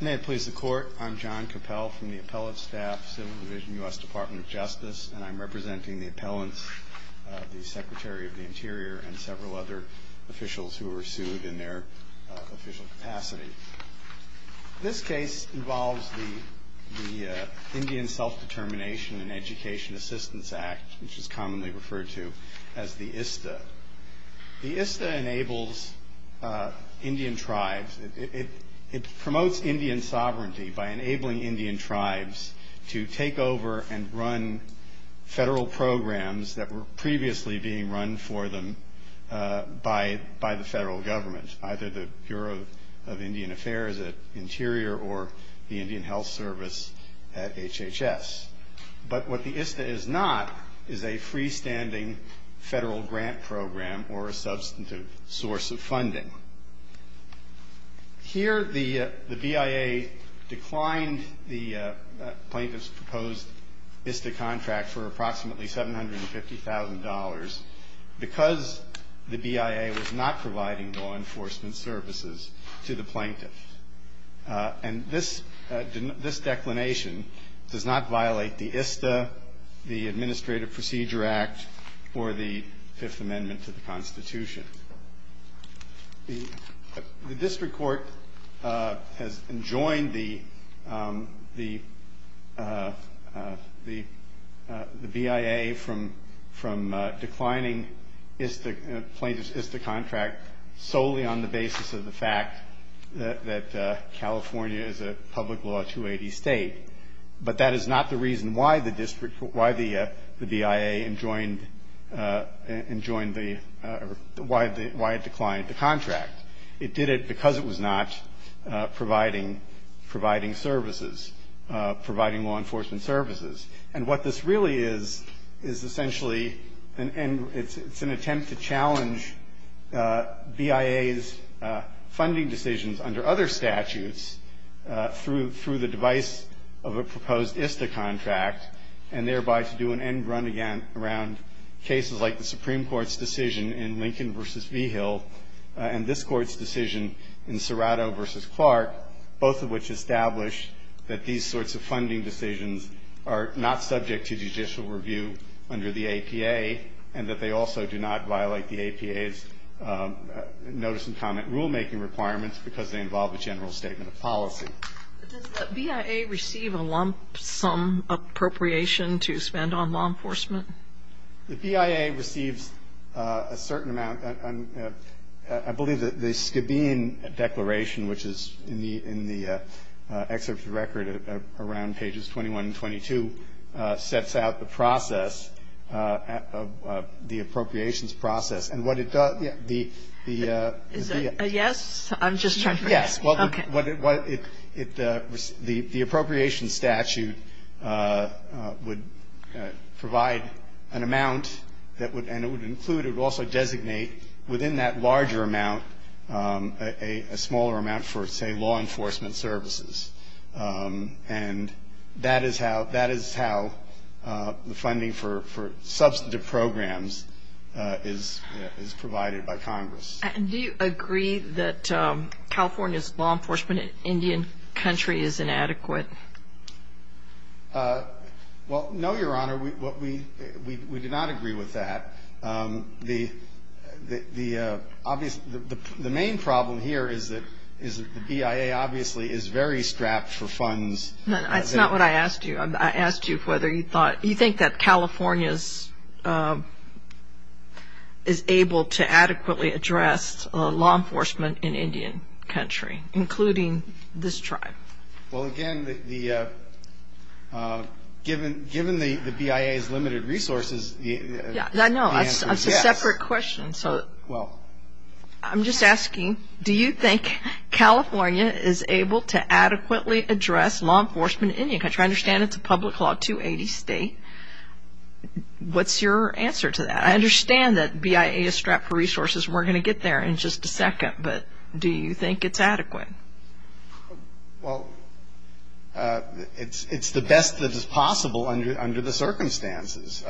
May it please the Court, I'm John Cappell from the Appellate Staff, Civil Division, U.S. Department of Justice, and I'm representing the appellants, the Secretary of the Interior, and several other officials who were sued in their official capacity. This case involves the Indian Self-Determination and Education Assistance Act, which is commonly referred to as the ISTA. The ISTA enables Indian tribes, it promotes Indian sovereignty by enabling Indian tribes to take over and run federal programs that were previously being run for them by the federal government, either the Bureau of Indian Affairs at Interior or the Indian Health Service at HHS. But what the ISTA is not is a freestanding federal grant program or a substantive source of funding. Here the BIA declined the plaintiff's proposed ISTA contract for approximately $750,000 because the BIA was not providing law enforcement services to the plaintiff. And this declination does not violate the ISTA, the Administrative Procedure Act, or the Fifth Amendment to the Constitution. The district court has enjoined the BIA from declining plaintiff's ISTA contract solely on the basis of the fact that California is a public law 280 state. But that is not the reason why the BIA enjoined the or why it declined the contract. It did it because it was not providing services, providing law enforcement services. And what this really is is essentially an attempt to challenge BIA's funding decisions under other statutes through the device of a proposed ISTA contract and thereby to do an end run around cases like the Supreme Court's decision in Lincoln v. Vigil and this Court's decision in Serrato v. Clark, both of which establish that these sorts of funding decisions are not subject to judicial review under the APA and that they also do not violate the APA's notice and comment rulemaking requirements because they involve a general statement of policy. But does the BIA receive a lump sum appropriation to spend on law enforcement? The BIA receives a certain amount. I believe that the Skabean Declaration, which is in the excerpt of the record around pages 21 and 22, sets out the process, the appropriations process. And what it does, the BIA ---- Is it a yes? I'm just trying to figure out. Yes. Okay. The appropriations statute would provide an amount that would, and it would include and it would also designate within that larger amount a smaller amount for, say, law enforcement services. And that is how the funding for substantive programs is provided by Congress. And do you agree that California's law enforcement in Indian country is inadequate? Well, no, Your Honor. We do not agree with that. The main problem here is that the BIA obviously is very strapped for funds. That's not what I asked you. I asked you whether you thought, do you think that California is able to adequately address law enforcement in Indian country, including this tribe? Well, again, given the BIA's limited resources, the answer is yes. No, that's a separate question. So I'm just asking, do you think California is able to adequately address law enforcement in Indian country? I understand it's a public law 280 state. What's your answer to that? I understand that BIA is strapped for resources, and we're going to get there in just a second. But do you think it's adequate? Well, it's the best that is possible under the circumstances,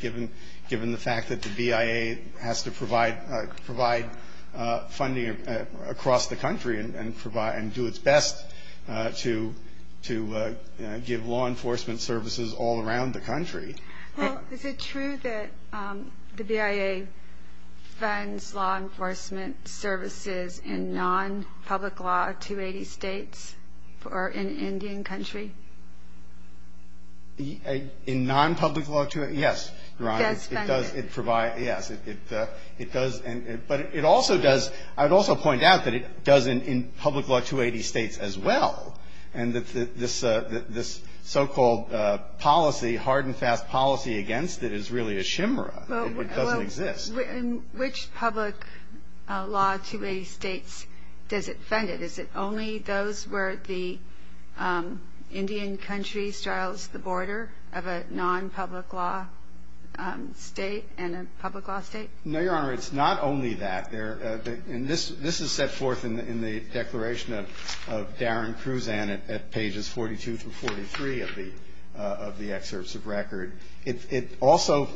given the fact that the BIA has to provide funding across the country and do its best to give law enforcement services all around the country. Well, is it true that the BIA funds law enforcement services in non-public law 280 states or in Indian country? In non-public law 280? Yes, it does. Yes, it does. But it also does, I would also point out that it does in public law 280 states as well, and that this so-called policy, hard and fast policy against it is really a chimera. It doesn't exist. Well, in which public law 280 states does it fund it? Is it only those where the Indian country straddles the border of a non-public law state and a public law state? No, Your Honor, it's not only that. This is set forth in the declaration of Darren Cruzan at pages 42 through 43 of the excerpts of record. It also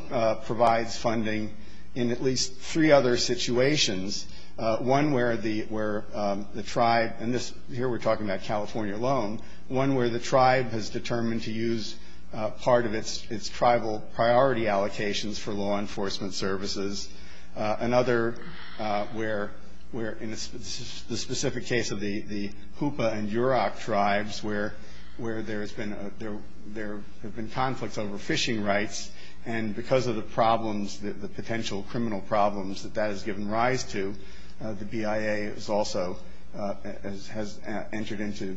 provides funding in at least three other situations, one where the tribe and here we're talking about California alone, one where the tribe has determined to use part of its tribal priority allocations for law enforcement services, another where in the specific case of the Hoopa and Yurok tribes where there has been a there have been conflicts over fishing rights, and because of the problems, the potential criminal problems that that has given rise to, the BIA has also has entered into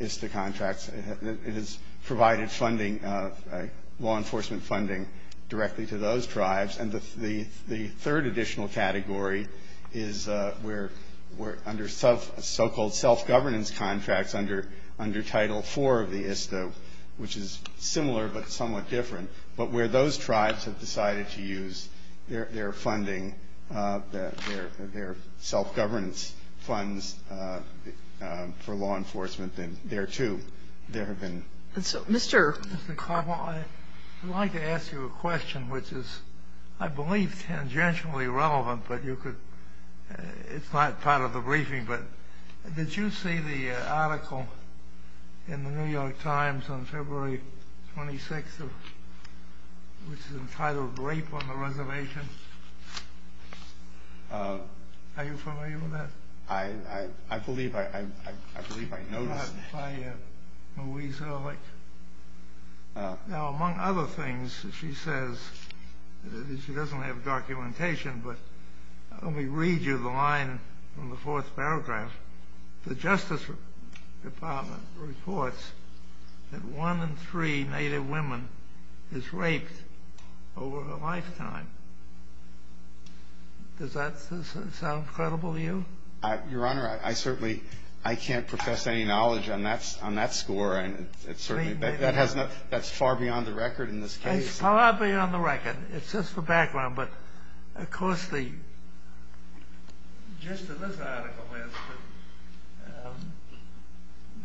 ISTA contracts. It has provided funding, law enforcement funding, directly to those tribes. And the third additional category is where under so-called self-governance contracts under Title IV of the ISTA, which is similar but somewhat different, but where those tribes have decided to use their funding, their self-governance funds for law enforcement, and there, too, there have been. And so, Mr. Carbone, I'd like to ask you a question which is, I believe, tangentially relevant, but you could, it's not part of the briefing, but did you see the article in the New York Times on February 26th, which is entitled Rape on the Reservation? Are you familiar with that? I believe I noticed that. By Louise Ehrlich. Now, among other things, she says, she doesn't have documentation, but let me read you the line from the fourth paragraph. The Justice Department reports that one in three Native women is raped over a lifetime. Does that sound credible to you? Your Honor, I certainly, I can't profess any knowledge on that score. That's far beyond the record in this case. It's far beyond the record. It's just the background. But, of course, the gist of this article is that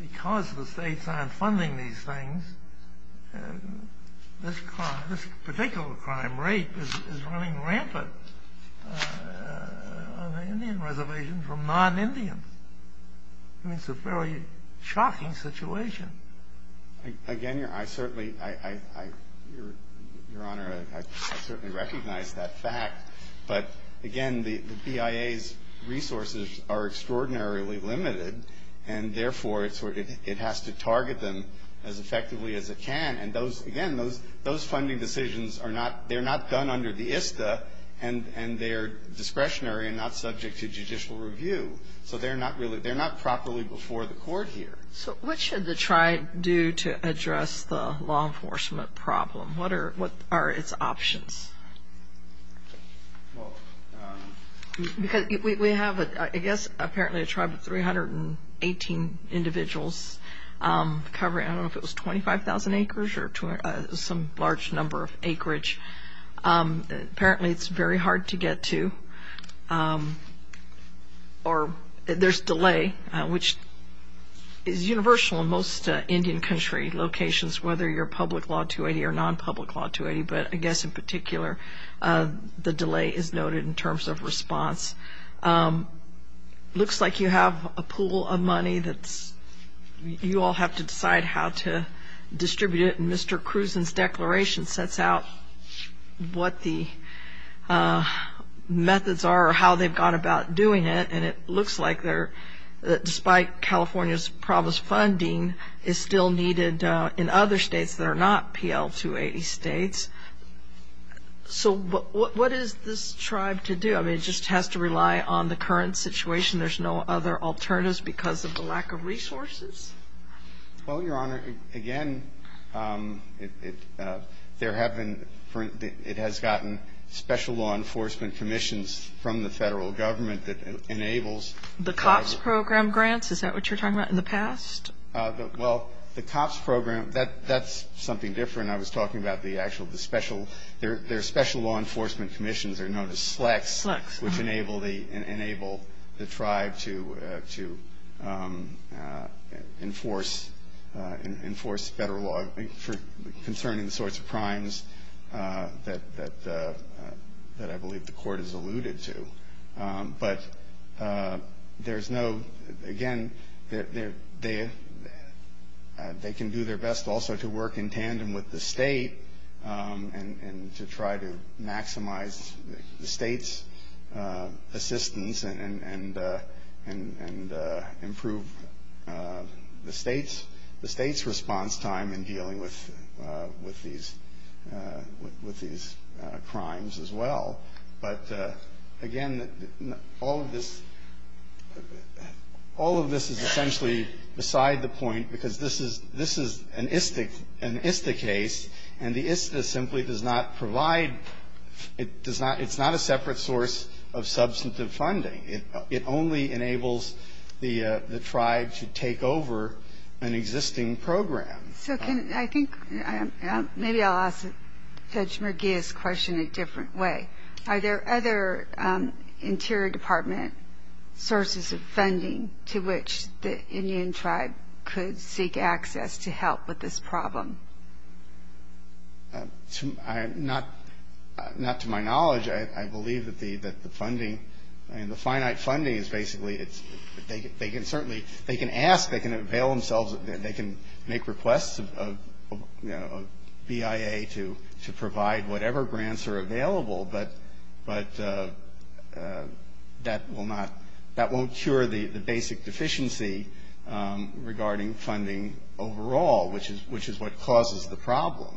because the states aren't funding these things, this particular crime, rape, is running rampant on the Indian reservation for non-Indians. I mean, it's a fairly shocking situation. Again, I certainly, Your Honor, I certainly recognize that fact. But, again, the BIA's resources are extraordinarily limited, and, therefore, it has to target them as effectively as it can. And, again, those funding decisions, they're not done under the ISTA, and they're discretionary and not subject to judicial review. So they're not properly before the court here. So what should the tribe do to address the law enforcement problem? What are its options? Because we have, I guess, apparently a tribe of 318 individuals covering, I don't know, if it was 25,000 acres or some large number of acreage. Apparently it's very hard to get to, or there's delay, which is universal in most Indian country locations, whether you're public law 280 or non-public law 280. But, I guess, in particular, the delay is noted in terms of response. It looks like you have a pool of money that you all have to decide how to distribute it. And Mr. Kruzan's declaration sets out what the methods are or how they've gone about doing it. And it looks like, despite California's provost funding, is still needed in other states that are not PL 280 states. So what is this tribe to do? I mean, it just has to rely on the current situation. There's no other alternatives because of the lack of resources? Well, Your Honor, again, there have been ‑‑ it has gotten special law enforcement commissions from the Federal Government that enables ‑‑ The COPS program grants, is that what you're talking about, in the past? Well, the COPS program, that's something different. I was talking about the actual special ‑‑ their special law enforcement commissions are known as SLECs. SLECs. Which enable the tribe to enforce federal law concerning the sorts of crimes that I believe the Court has alluded to. But there's no, again, they can do their best also to work in tandem with the state and to try to maximize the state's assistance and improve the state's response time in dealing with these crimes as well. But, again, all of this is essentially beside the point because this is an ISTA case and the ISTA simply does not provide, it's not a separate source of substantive funding. It only enables the tribe to take over an existing program. So can, I think, maybe I'll ask Judge Merguia's question a different way. Are there other Interior Department sources of funding to which the Indian tribe could seek access to help with this problem? Not to my knowledge. I believe that the funding, the finite funding is basically, they can certainly, they can ask, they can avail themselves, they can make requests of BIA to provide whatever grants are available. But that will not, that won't cure the basic deficiency regarding funding overall, which is what causes the problem,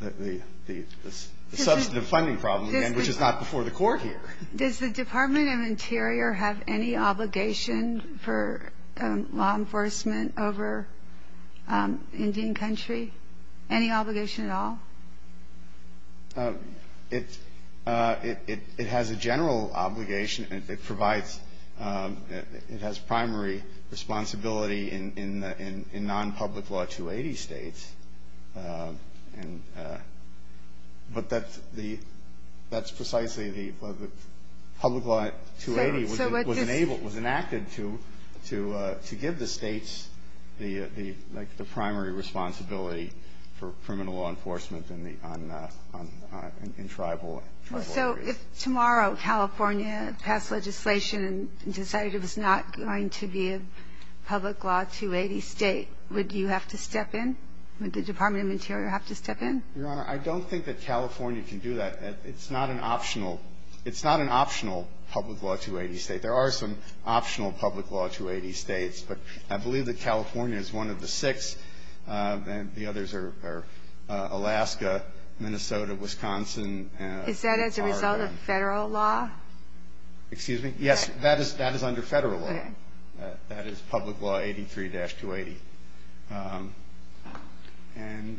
the substantive funding problem, again, which is not before the Court here. Does the Department of Interior have any obligation for law enforcement over Indian country? Any obligation at all? It has a general obligation. It provides, it has primary responsibility in non-public law 280 states. And, but that's the, that's precisely the public law 280 was enabled, was enacted to give the states the, like, the primary responsibility for criminal law enforcement in the, in tribal areas. So if tomorrow California passed legislation and decided it was not going to be a public law 280 state, would you have to step in? Would the Department of Interior have to step in? Your Honor, I don't think that California can do that. It's not an optional, it's not an optional public law 280 state. There are some optional public law 280 states. But I believe that California is one of the six, and the others are Alaska, Minnesota, Wisconsin. Is that as a result of federal law? Excuse me? Yes, that is under federal law. Okay. That is public law 83-280. And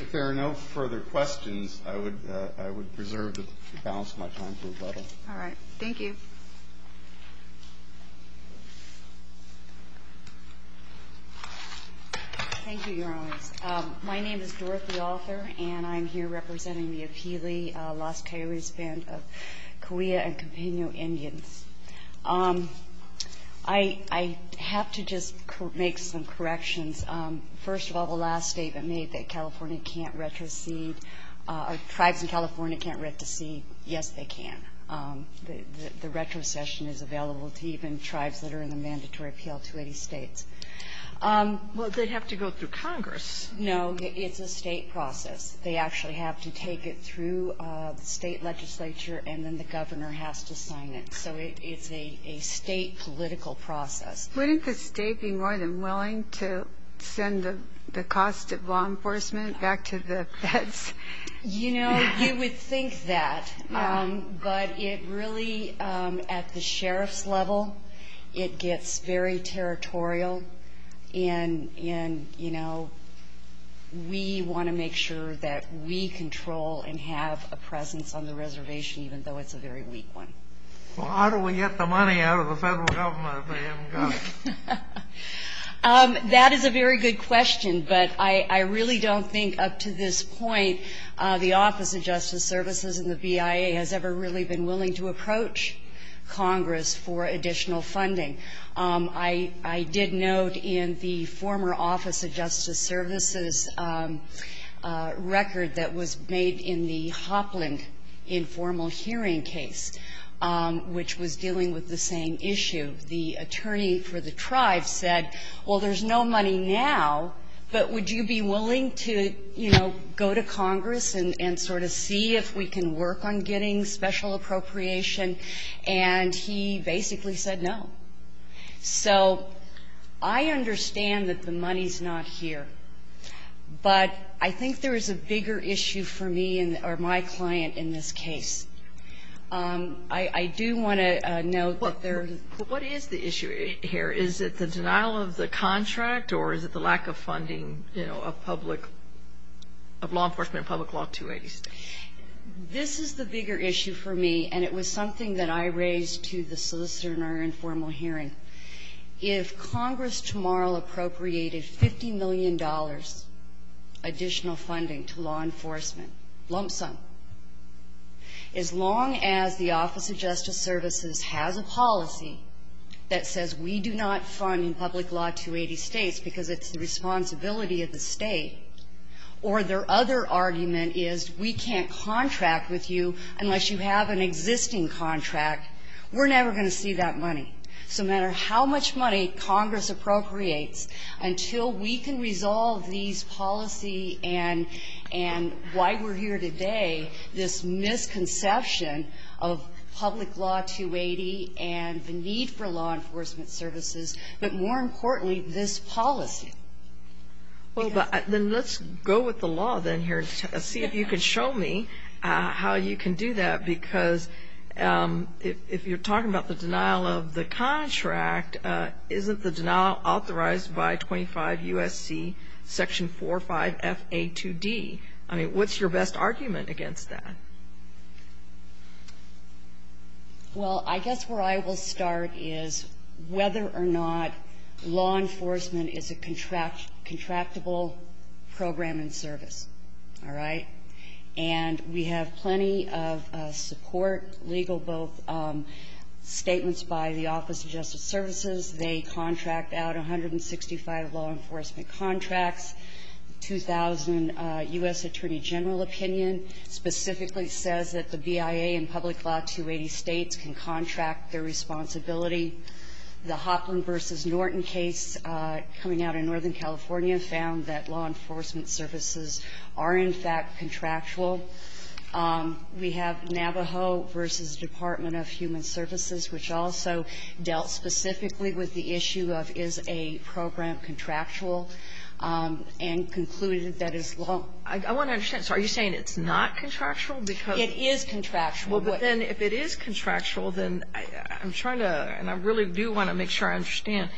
if there are no further questions, I would preserve the balance of my time for rebuttal. All right. Thank you. Thank you, Your Honors. My name is Dorothy Arthur, and I'm here representing the Apehli-Las Coyotes Band of Cahuilla and Campeño Indians. I have to just make some corrections. First of all, the last statement made that California can't retrocede, or tribes in California can't retrocede. Yes, they can. The retrocession is available to even tribes that are in the mandatory PL-280 states. Well, they'd have to go through Congress. No, it's a state process. They actually have to take it through the state legislature, and then the governor has to sign it. So it's a state political process. Wouldn't the state be more than willing to send the cost of law enforcement back to the feds? You know, you would think that. But it really, at the sheriff's level, it gets very territorial, and, you know, we want to make sure that we control and have a presence on the reservation, even though it's a very weak one. Well, how do we get the money out of the federal government if they haven't got it? That is a very good question, but I really don't think, up to this point, the Office of Justice Services and the BIA has ever really been willing to approach Congress for additional funding. I did note in the former Office of Justice Services record that was made in the Hopland informal hearing case, which was dealing with the same issue, the attorney for the Congress and sort of see if we can work on getting special appropriation. And he basically said no. So I understand that the money's not here, but I think there is a bigger issue for me or my client in this case. I do want to note that there is the issue here. Is it the denial of the contract, or is it the lack of funding, you know, of public law, of law enforcement and public law 280 states? This is the bigger issue for me, and it was something that I raised to the solicitor in our informal hearing. If Congress tomorrow appropriated $50 million additional funding to law enforcement, lump sum, as long as the Office of Justice Services has a policy that says we do not fund in public law 280 states because it's the responsibility of the state, or their other argument is we can't contract with you unless you have an existing contract, we're never going to see that money. So no matter how much money Congress appropriates, until we can resolve these policy and why we're here today, this misconception of public law 280 and the need for law enforcement, but more importantly, this policy. Kagan. Well, but then let's go with the law then here and see if you can show me how you can do that, because if you're talking about the denial of the contract, isn't the denial authorized by 25 U.S.C. section 45FA2D? I mean, what's your best argument against that? Well, I guess where I will start is whether or not law enforcement is a contractable program and service. All right? And we have plenty of support, legal, both statements by the Office of Justice Services. They contract out 165 law enforcement contracts, 2,000 U.S. Attorney General opinion specifically says that the BIA and Public Law 280 States can contract their responsibility. The Hopland v. Norton case coming out in Northern California found that law enforcement services are in fact contractual. We have Navajo v. Department of Human Services, which also dealt specifically with the issue of is a program contractual, and concluded that is law. I want to understand. So are you saying it's not contractual? It is contractual. Well, but then if it is contractual, then I'm trying to, and I really do want to make sure I understand,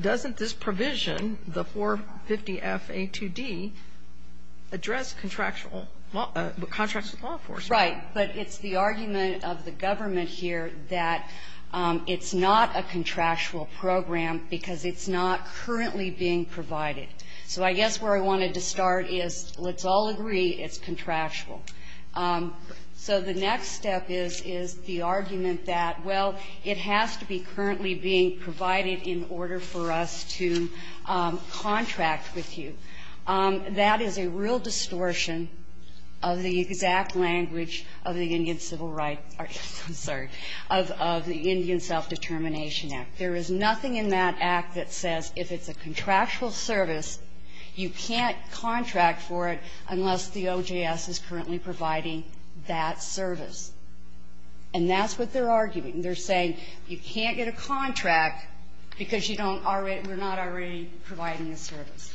doesn't this provision, the 450FA2D, address contractual law, contracts with law enforcement? Right. But it's the argument of the government here that it's not a contractual program because it's not currently being provided. So I guess where I wanted to start is let's all agree it's contractual. So the next step is the argument that, well, it has to be currently being provided in order for us to contract with you. That is a real distortion of the exact language of the Indian Civil Rights or, I'm sorry, of the Indian Self-Determination Act. There is nothing in that Act that says if it's a contractual service, you can't contract for it unless the OJS is currently providing that service. And that's what they're arguing. They're saying you can't get a contract because you don't already we're not already providing a service.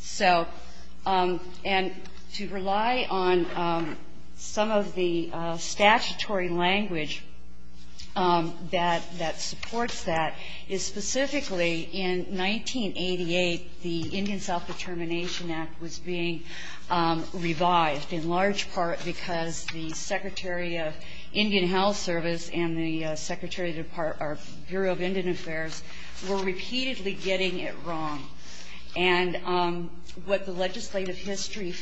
So, and to rely on some of the statutory language of the Indian Civil Rights or, I'm sorry, OJS that supports that is specifically in 1988, the Indian Self-Determination Act was being revived in large part because the Secretary of Indian Health Service and the Secretary of the Bureau of Indian Affairs were repeatedly getting it wrong. And what the legislative history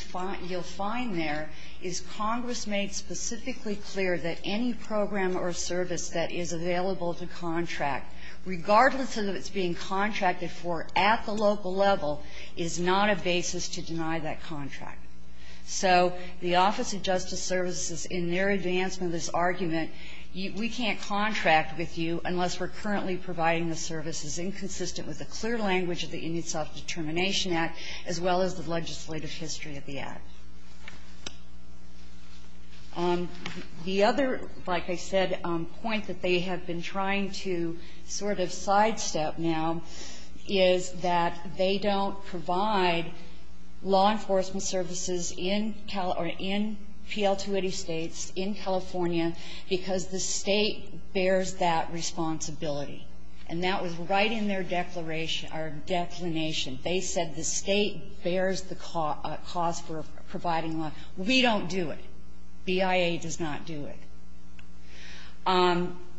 you'll find there is Congress made specifically clear that any program or service that is available to contract, regardless of if it's being contracted for at the local level, is not a basis to deny that contract. So the Office of Justice Services, in their advancement of this argument, we can't contract with you unless we're currently providing the services inconsistent with the clear language of the Indian Self-Determination Act as well as the legislative history of the Act. The other, like I said, point that they have been trying to sort of sidestep now is that they don't provide law enforcement services in PL-280 States, in California, because the State bears that responsibility. And that was right in their declaration or declination. They said the State bears the cost for providing law. We don't do it. BIA does not do it.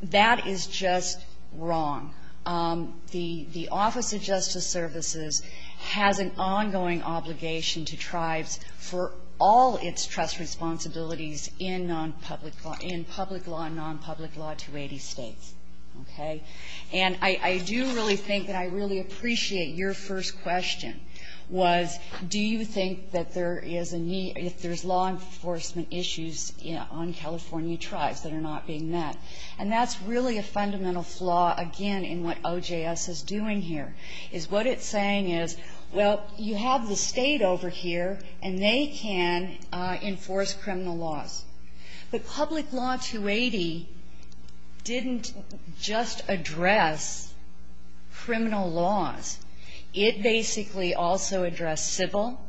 That is just wrong. The Office of Justice Services has an ongoing obligation to tribes for all its trust responsibilities in nonpublic law – in public law and nonpublic law 280 States. Okay? And I do really think that I really appreciate your first question, was do you think that there is a need – if there's law enforcement issues on California tribes that are not being met? And that's really a fundamental flaw, again, in what OJS is doing here, is what it's saying is, well, you have the State over here, and they can enforce criminal laws. But Public Law 280 didn't just address criminal laws. It basically also addressed civil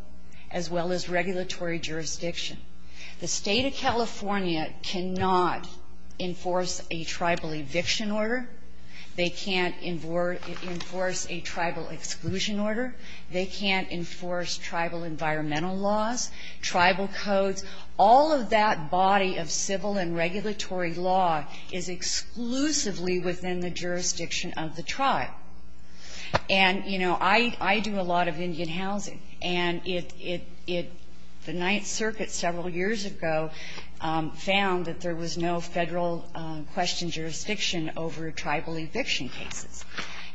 as well as regulatory jurisdiction. The State of California cannot enforce a tribal eviction order. They can't enforce a tribal exclusion order. They can't enforce tribal environmental laws, tribal codes. All of that body of civil and regulatory law is exclusively within the jurisdiction of the tribe. And, you know, I do a lot of Indian housing, and it – the Ninth Circuit several years ago found that there was no Federal-questioned jurisdiction over tribal eviction cases.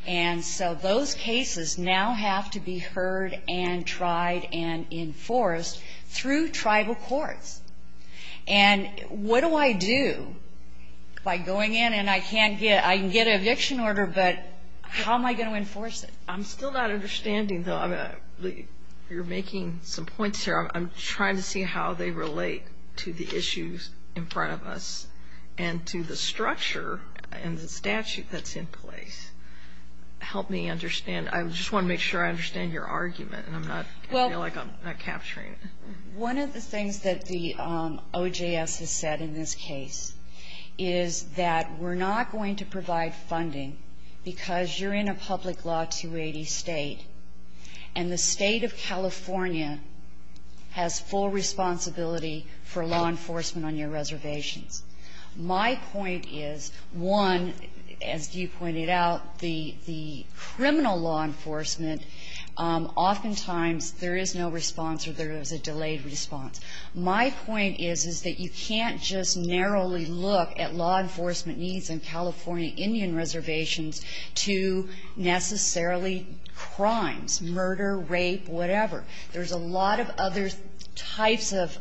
And so those cases now have to be heard and tried and enforced through tribal courts. And what do I do by going in, and I can't get – I can get an eviction order, but how am I going to enforce it? I'm still not understanding, though. I mean, you're making some points here. I'm trying to see how they relate to the issues in front of us and to the structure and the statute that's in place. Help me understand. I just want to make sure I understand your argument, and I'm not – I feel like I'm not capturing it. One of the things that the OJS has said in this case is that we're not going to provide funding because you're in a public law 280 State, and the State of California has full responsibility for law enforcement on your reservations. My point is, one, as you pointed out, the criminal law enforcement, oftentimes there is no response or there is a delayed response. My point is, is that you can't just narrowly look at law enforcement needs in California Indian reservations to necessarily crimes – murder, rape, whatever. There's a lot of other types of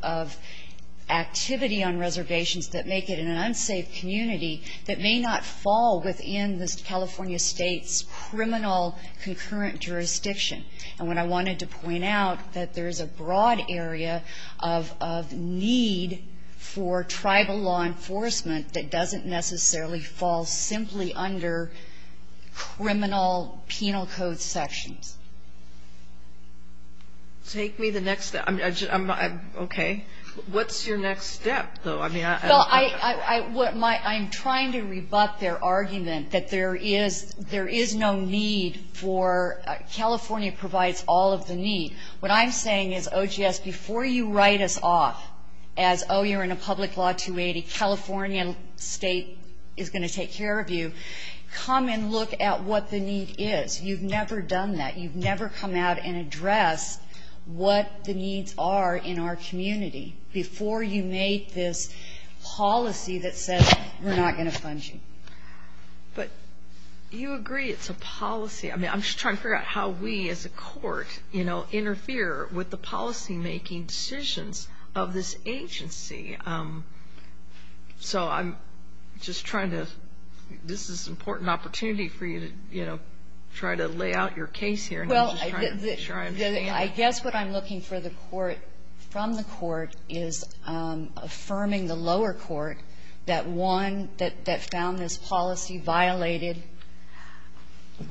activity on reservations that make it an unsafe community that may not fall within this California State's criminal concurrent jurisdiction. And what I wanted to point out, that there is a broad area of need for tribal law enforcement that doesn't necessarily fall simply under criminal penal code sections. Take me the next – I'm not – okay. What's your next step, though? I mean, I don't know. Well, I'm trying to rebut their argument that there is no need for California provides all of the need. What I'm saying is, OGS, before you write us off as, oh, you're in a public law 280, California State is going to take care of you, come and look at what the need is. You've never done that. You've never come out and addressed what the needs are in our community before you made this policy that says we're not going to fund you. But you agree it's a policy. I mean, I'm just trying to figure out how we, as a court, you know, interfere with the policymaking decisions of this agency. So I'm just trying to – this is an important opportunity for you to, you know, try to lay out your case here. Well, I guess what I'm looking for the court – from the court is affirming the lower court that one – that found this policy violated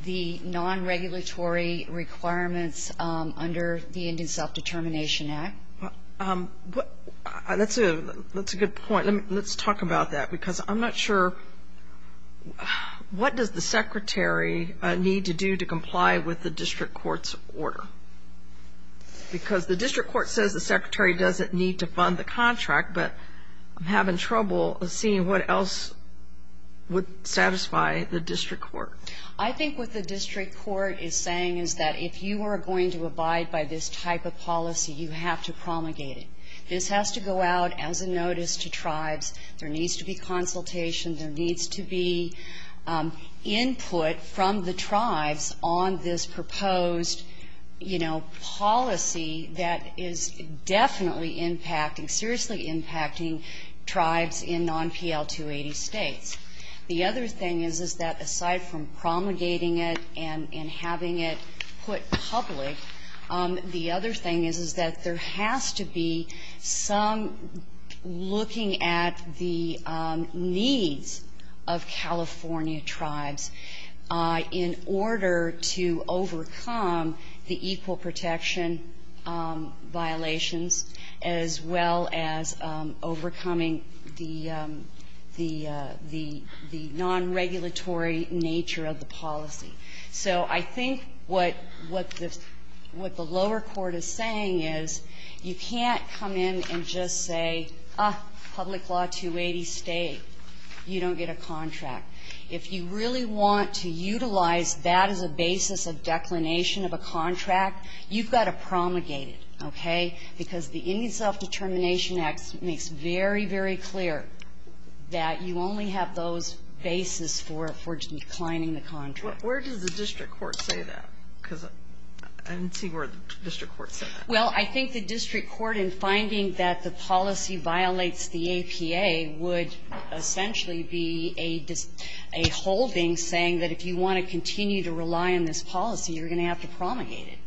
the non-regulatory requirements under the Indian Self-Determination Act. That's a good point. Let's talk about that, because I'm not sure – what does the Secretary need to do to comply with the district court's order? Because the district court says the Secretary doesn't need to fund the contract, but I'm having trouble seeing what else would satisfy the district court. I think what the district court is saying is that if you are going to abide by this type of policy, you have to promulgate it. This has to go out as a notice to tribes. There needs to be consultation. There needs to be input from the tribes on this proposed, you know, policy that is definitely impacting – seriously impacting tribes in non-PL-280 states. The other thing is, is that aside from promulgating it and having it put public, the other thing is, is that there has to be some looking at the needs of California tribes in order to overcome the equal protection violations as well as overcoming the non-regulatory nature of the policy. So I think what the lower court is saying is you can't come in and just say, ah, public law 280 state, you don't get a contract. If you really want to utilize that as a basis of declination of a contract, you've got to promulgate it, okay? Because the Indian Self-Determination Act makes very, very clear that you only have those basis for declining the contract. Where does the district court say that? Because I didn't see where the district court said that. Well, I think the district court in finding that the policy violates the APA would essentially be a holding saying that if you want to continue to rely on this policy, you're going to have to promulgate it.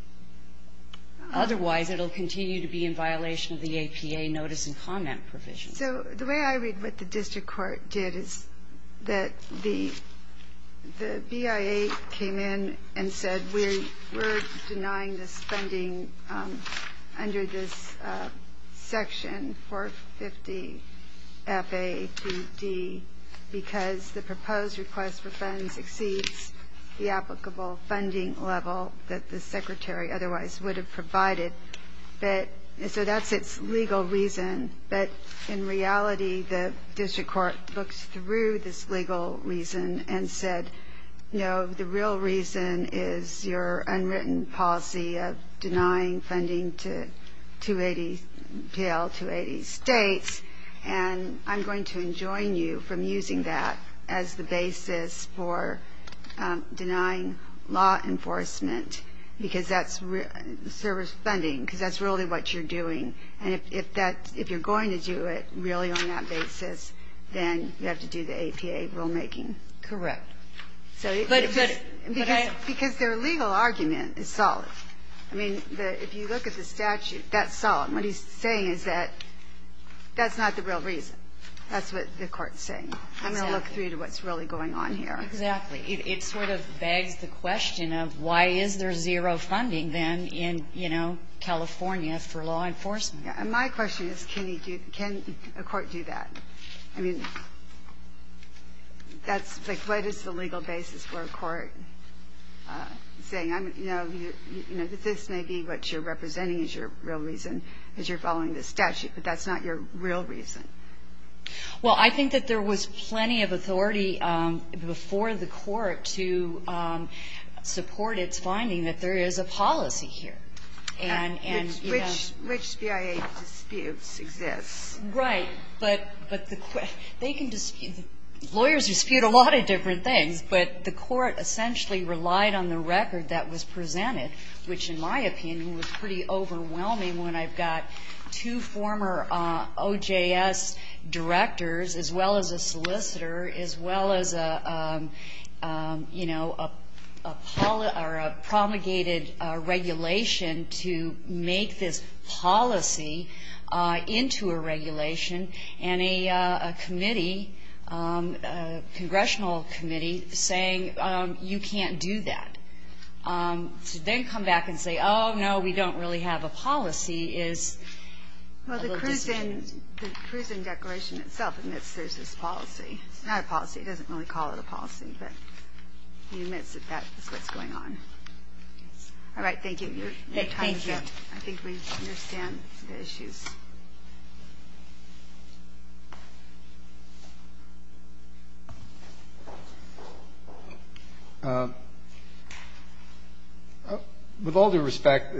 Otherwise, it will continue to be in violation of the APA notice and comment provision. So the way I read what the district court did is that the BIA came in and said, we're denying this funding under this section 450 FAA 2D because the proposed request for funds exceeds the applicable funding level that the secretary otherwise would have provided. So that's its legal reason. But in reality, the district court looks through this legal reason and said, you know, the real reason is your unwritten policy of denying funding to 280 states. And I'm going to enjoin you from using that as the basis for denying law enforcement because that's service funding, because that's really what you're doing. And if you're going to do it really on that basis, then you have to do the APA rulemaking. Correct. Because their legal argument is solid. I mean, if you look at the statute, that's solid. What he's saying is that that's not the real reason. That's what the court's saying. I'm going to look through to what's really going on here. Exactly. It sort of begs the question of why is there zero funding then in, you know, California for law enforcement? My question is, can a court do that? I mean, that's like, what is the legal basis for a court saying, you know, that this may be what you're representing as your real reason because you're following the statute, but that's not your real reason? Well, I think that there was plenty of authority before the court to support its finding that there is a policy here. Which BIA disputes exist. Right, but lawyers dispute a lot of different things, but the court essentially relied on the record that was presented, which in my opinion was pretty overwhelming when I've got two former OJS directors as well as a solicitor, as well as, you know, a promulgated regulation to make this policy into a regulation and a committee, a congressional committee, saying you can't do that. To then come back and say, oh, no, we don't really have a policy is a little disingenuous. Well, the cruising declaration itself admits there's this policy. It's not a policy. It doesn't really call it a policy, but it admits that that's what's going on. All right. Thank you. I think we understand the issues. With all due respect,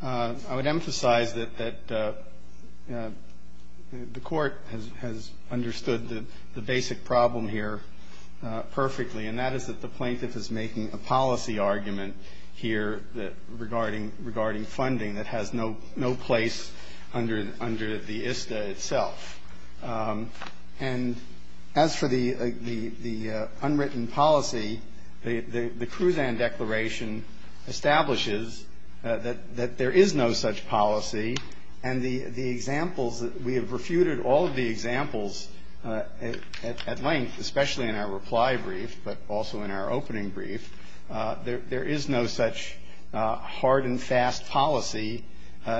I would emphasize that the court has understood the basic problem here perfectly, and that is that the plaintiff is making a policy argument here regarding funding that has no place under the ISTA itself. And as for the unwritten policy, the cruise and declaration establishes that there is no such policy, and the examples that we have refuted all of the examples at length, especially in our reply brief, but also in our opening brief, there is no such hard and fast policy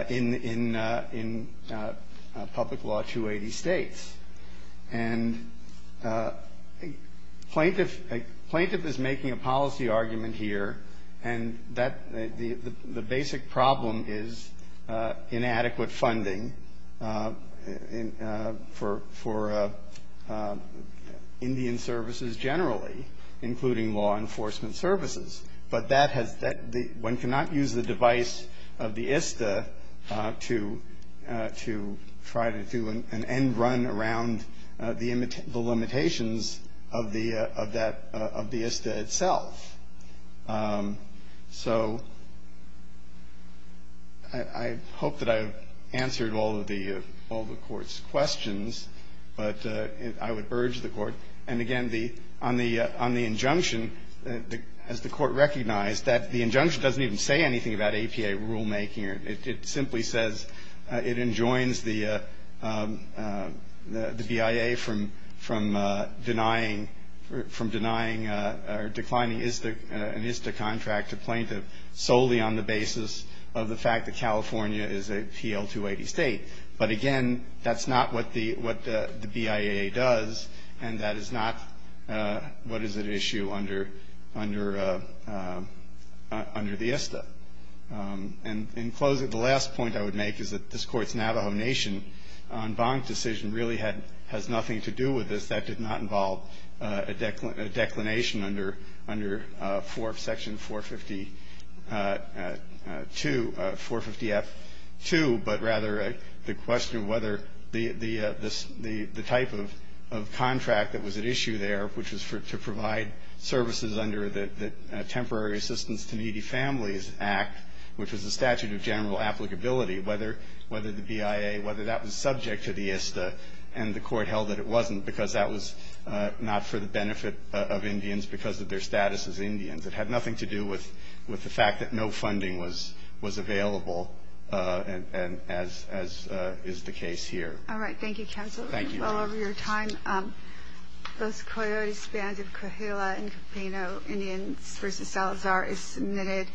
in public law 280 states. And a plaintiff is making a policy argument here, and the basic problem is inadequate funding for Indian services generally, including law enforcement services. But one cannot use the device of the ISTA to try to do an end run around the limitations of the ISTA itself. So I hope that I've answered all of the court's questions, but I would urge the court, and again, on the injunction, has the court recognized that the injunction doesn't even say anything about APA rulemaking? It simply says it enjoins the BIA from denying or declining an ISTA contract to plaintiff solely on the basis of the fact that California is a PL-280 state. But again, that's not what the BIA does, and that is not what is at issue under the ISTA. And in closing, the last point I would make is that this Court's Navajo Nation en banc decision really has nothing to do with this. That did not involve a declination under Section 450F-2, but rather the question of whether the type of contract that was at issue there, which was to provide services under the Temporary Assistance to Needy Families Act, which was a statute of general applicability, whether the BIA, whether that was subject to the ISTA, and the court held that it wasn't because that was not for the benefit of Indians because of their status as Indians. It had nothing to do with the fact that no funding was available, as is the case here. All right. Thank you, counsel. Thank you. Thank you all for your time. Those Coyote Spans of Coahuila and Campino Indians v. Salazar is submitted.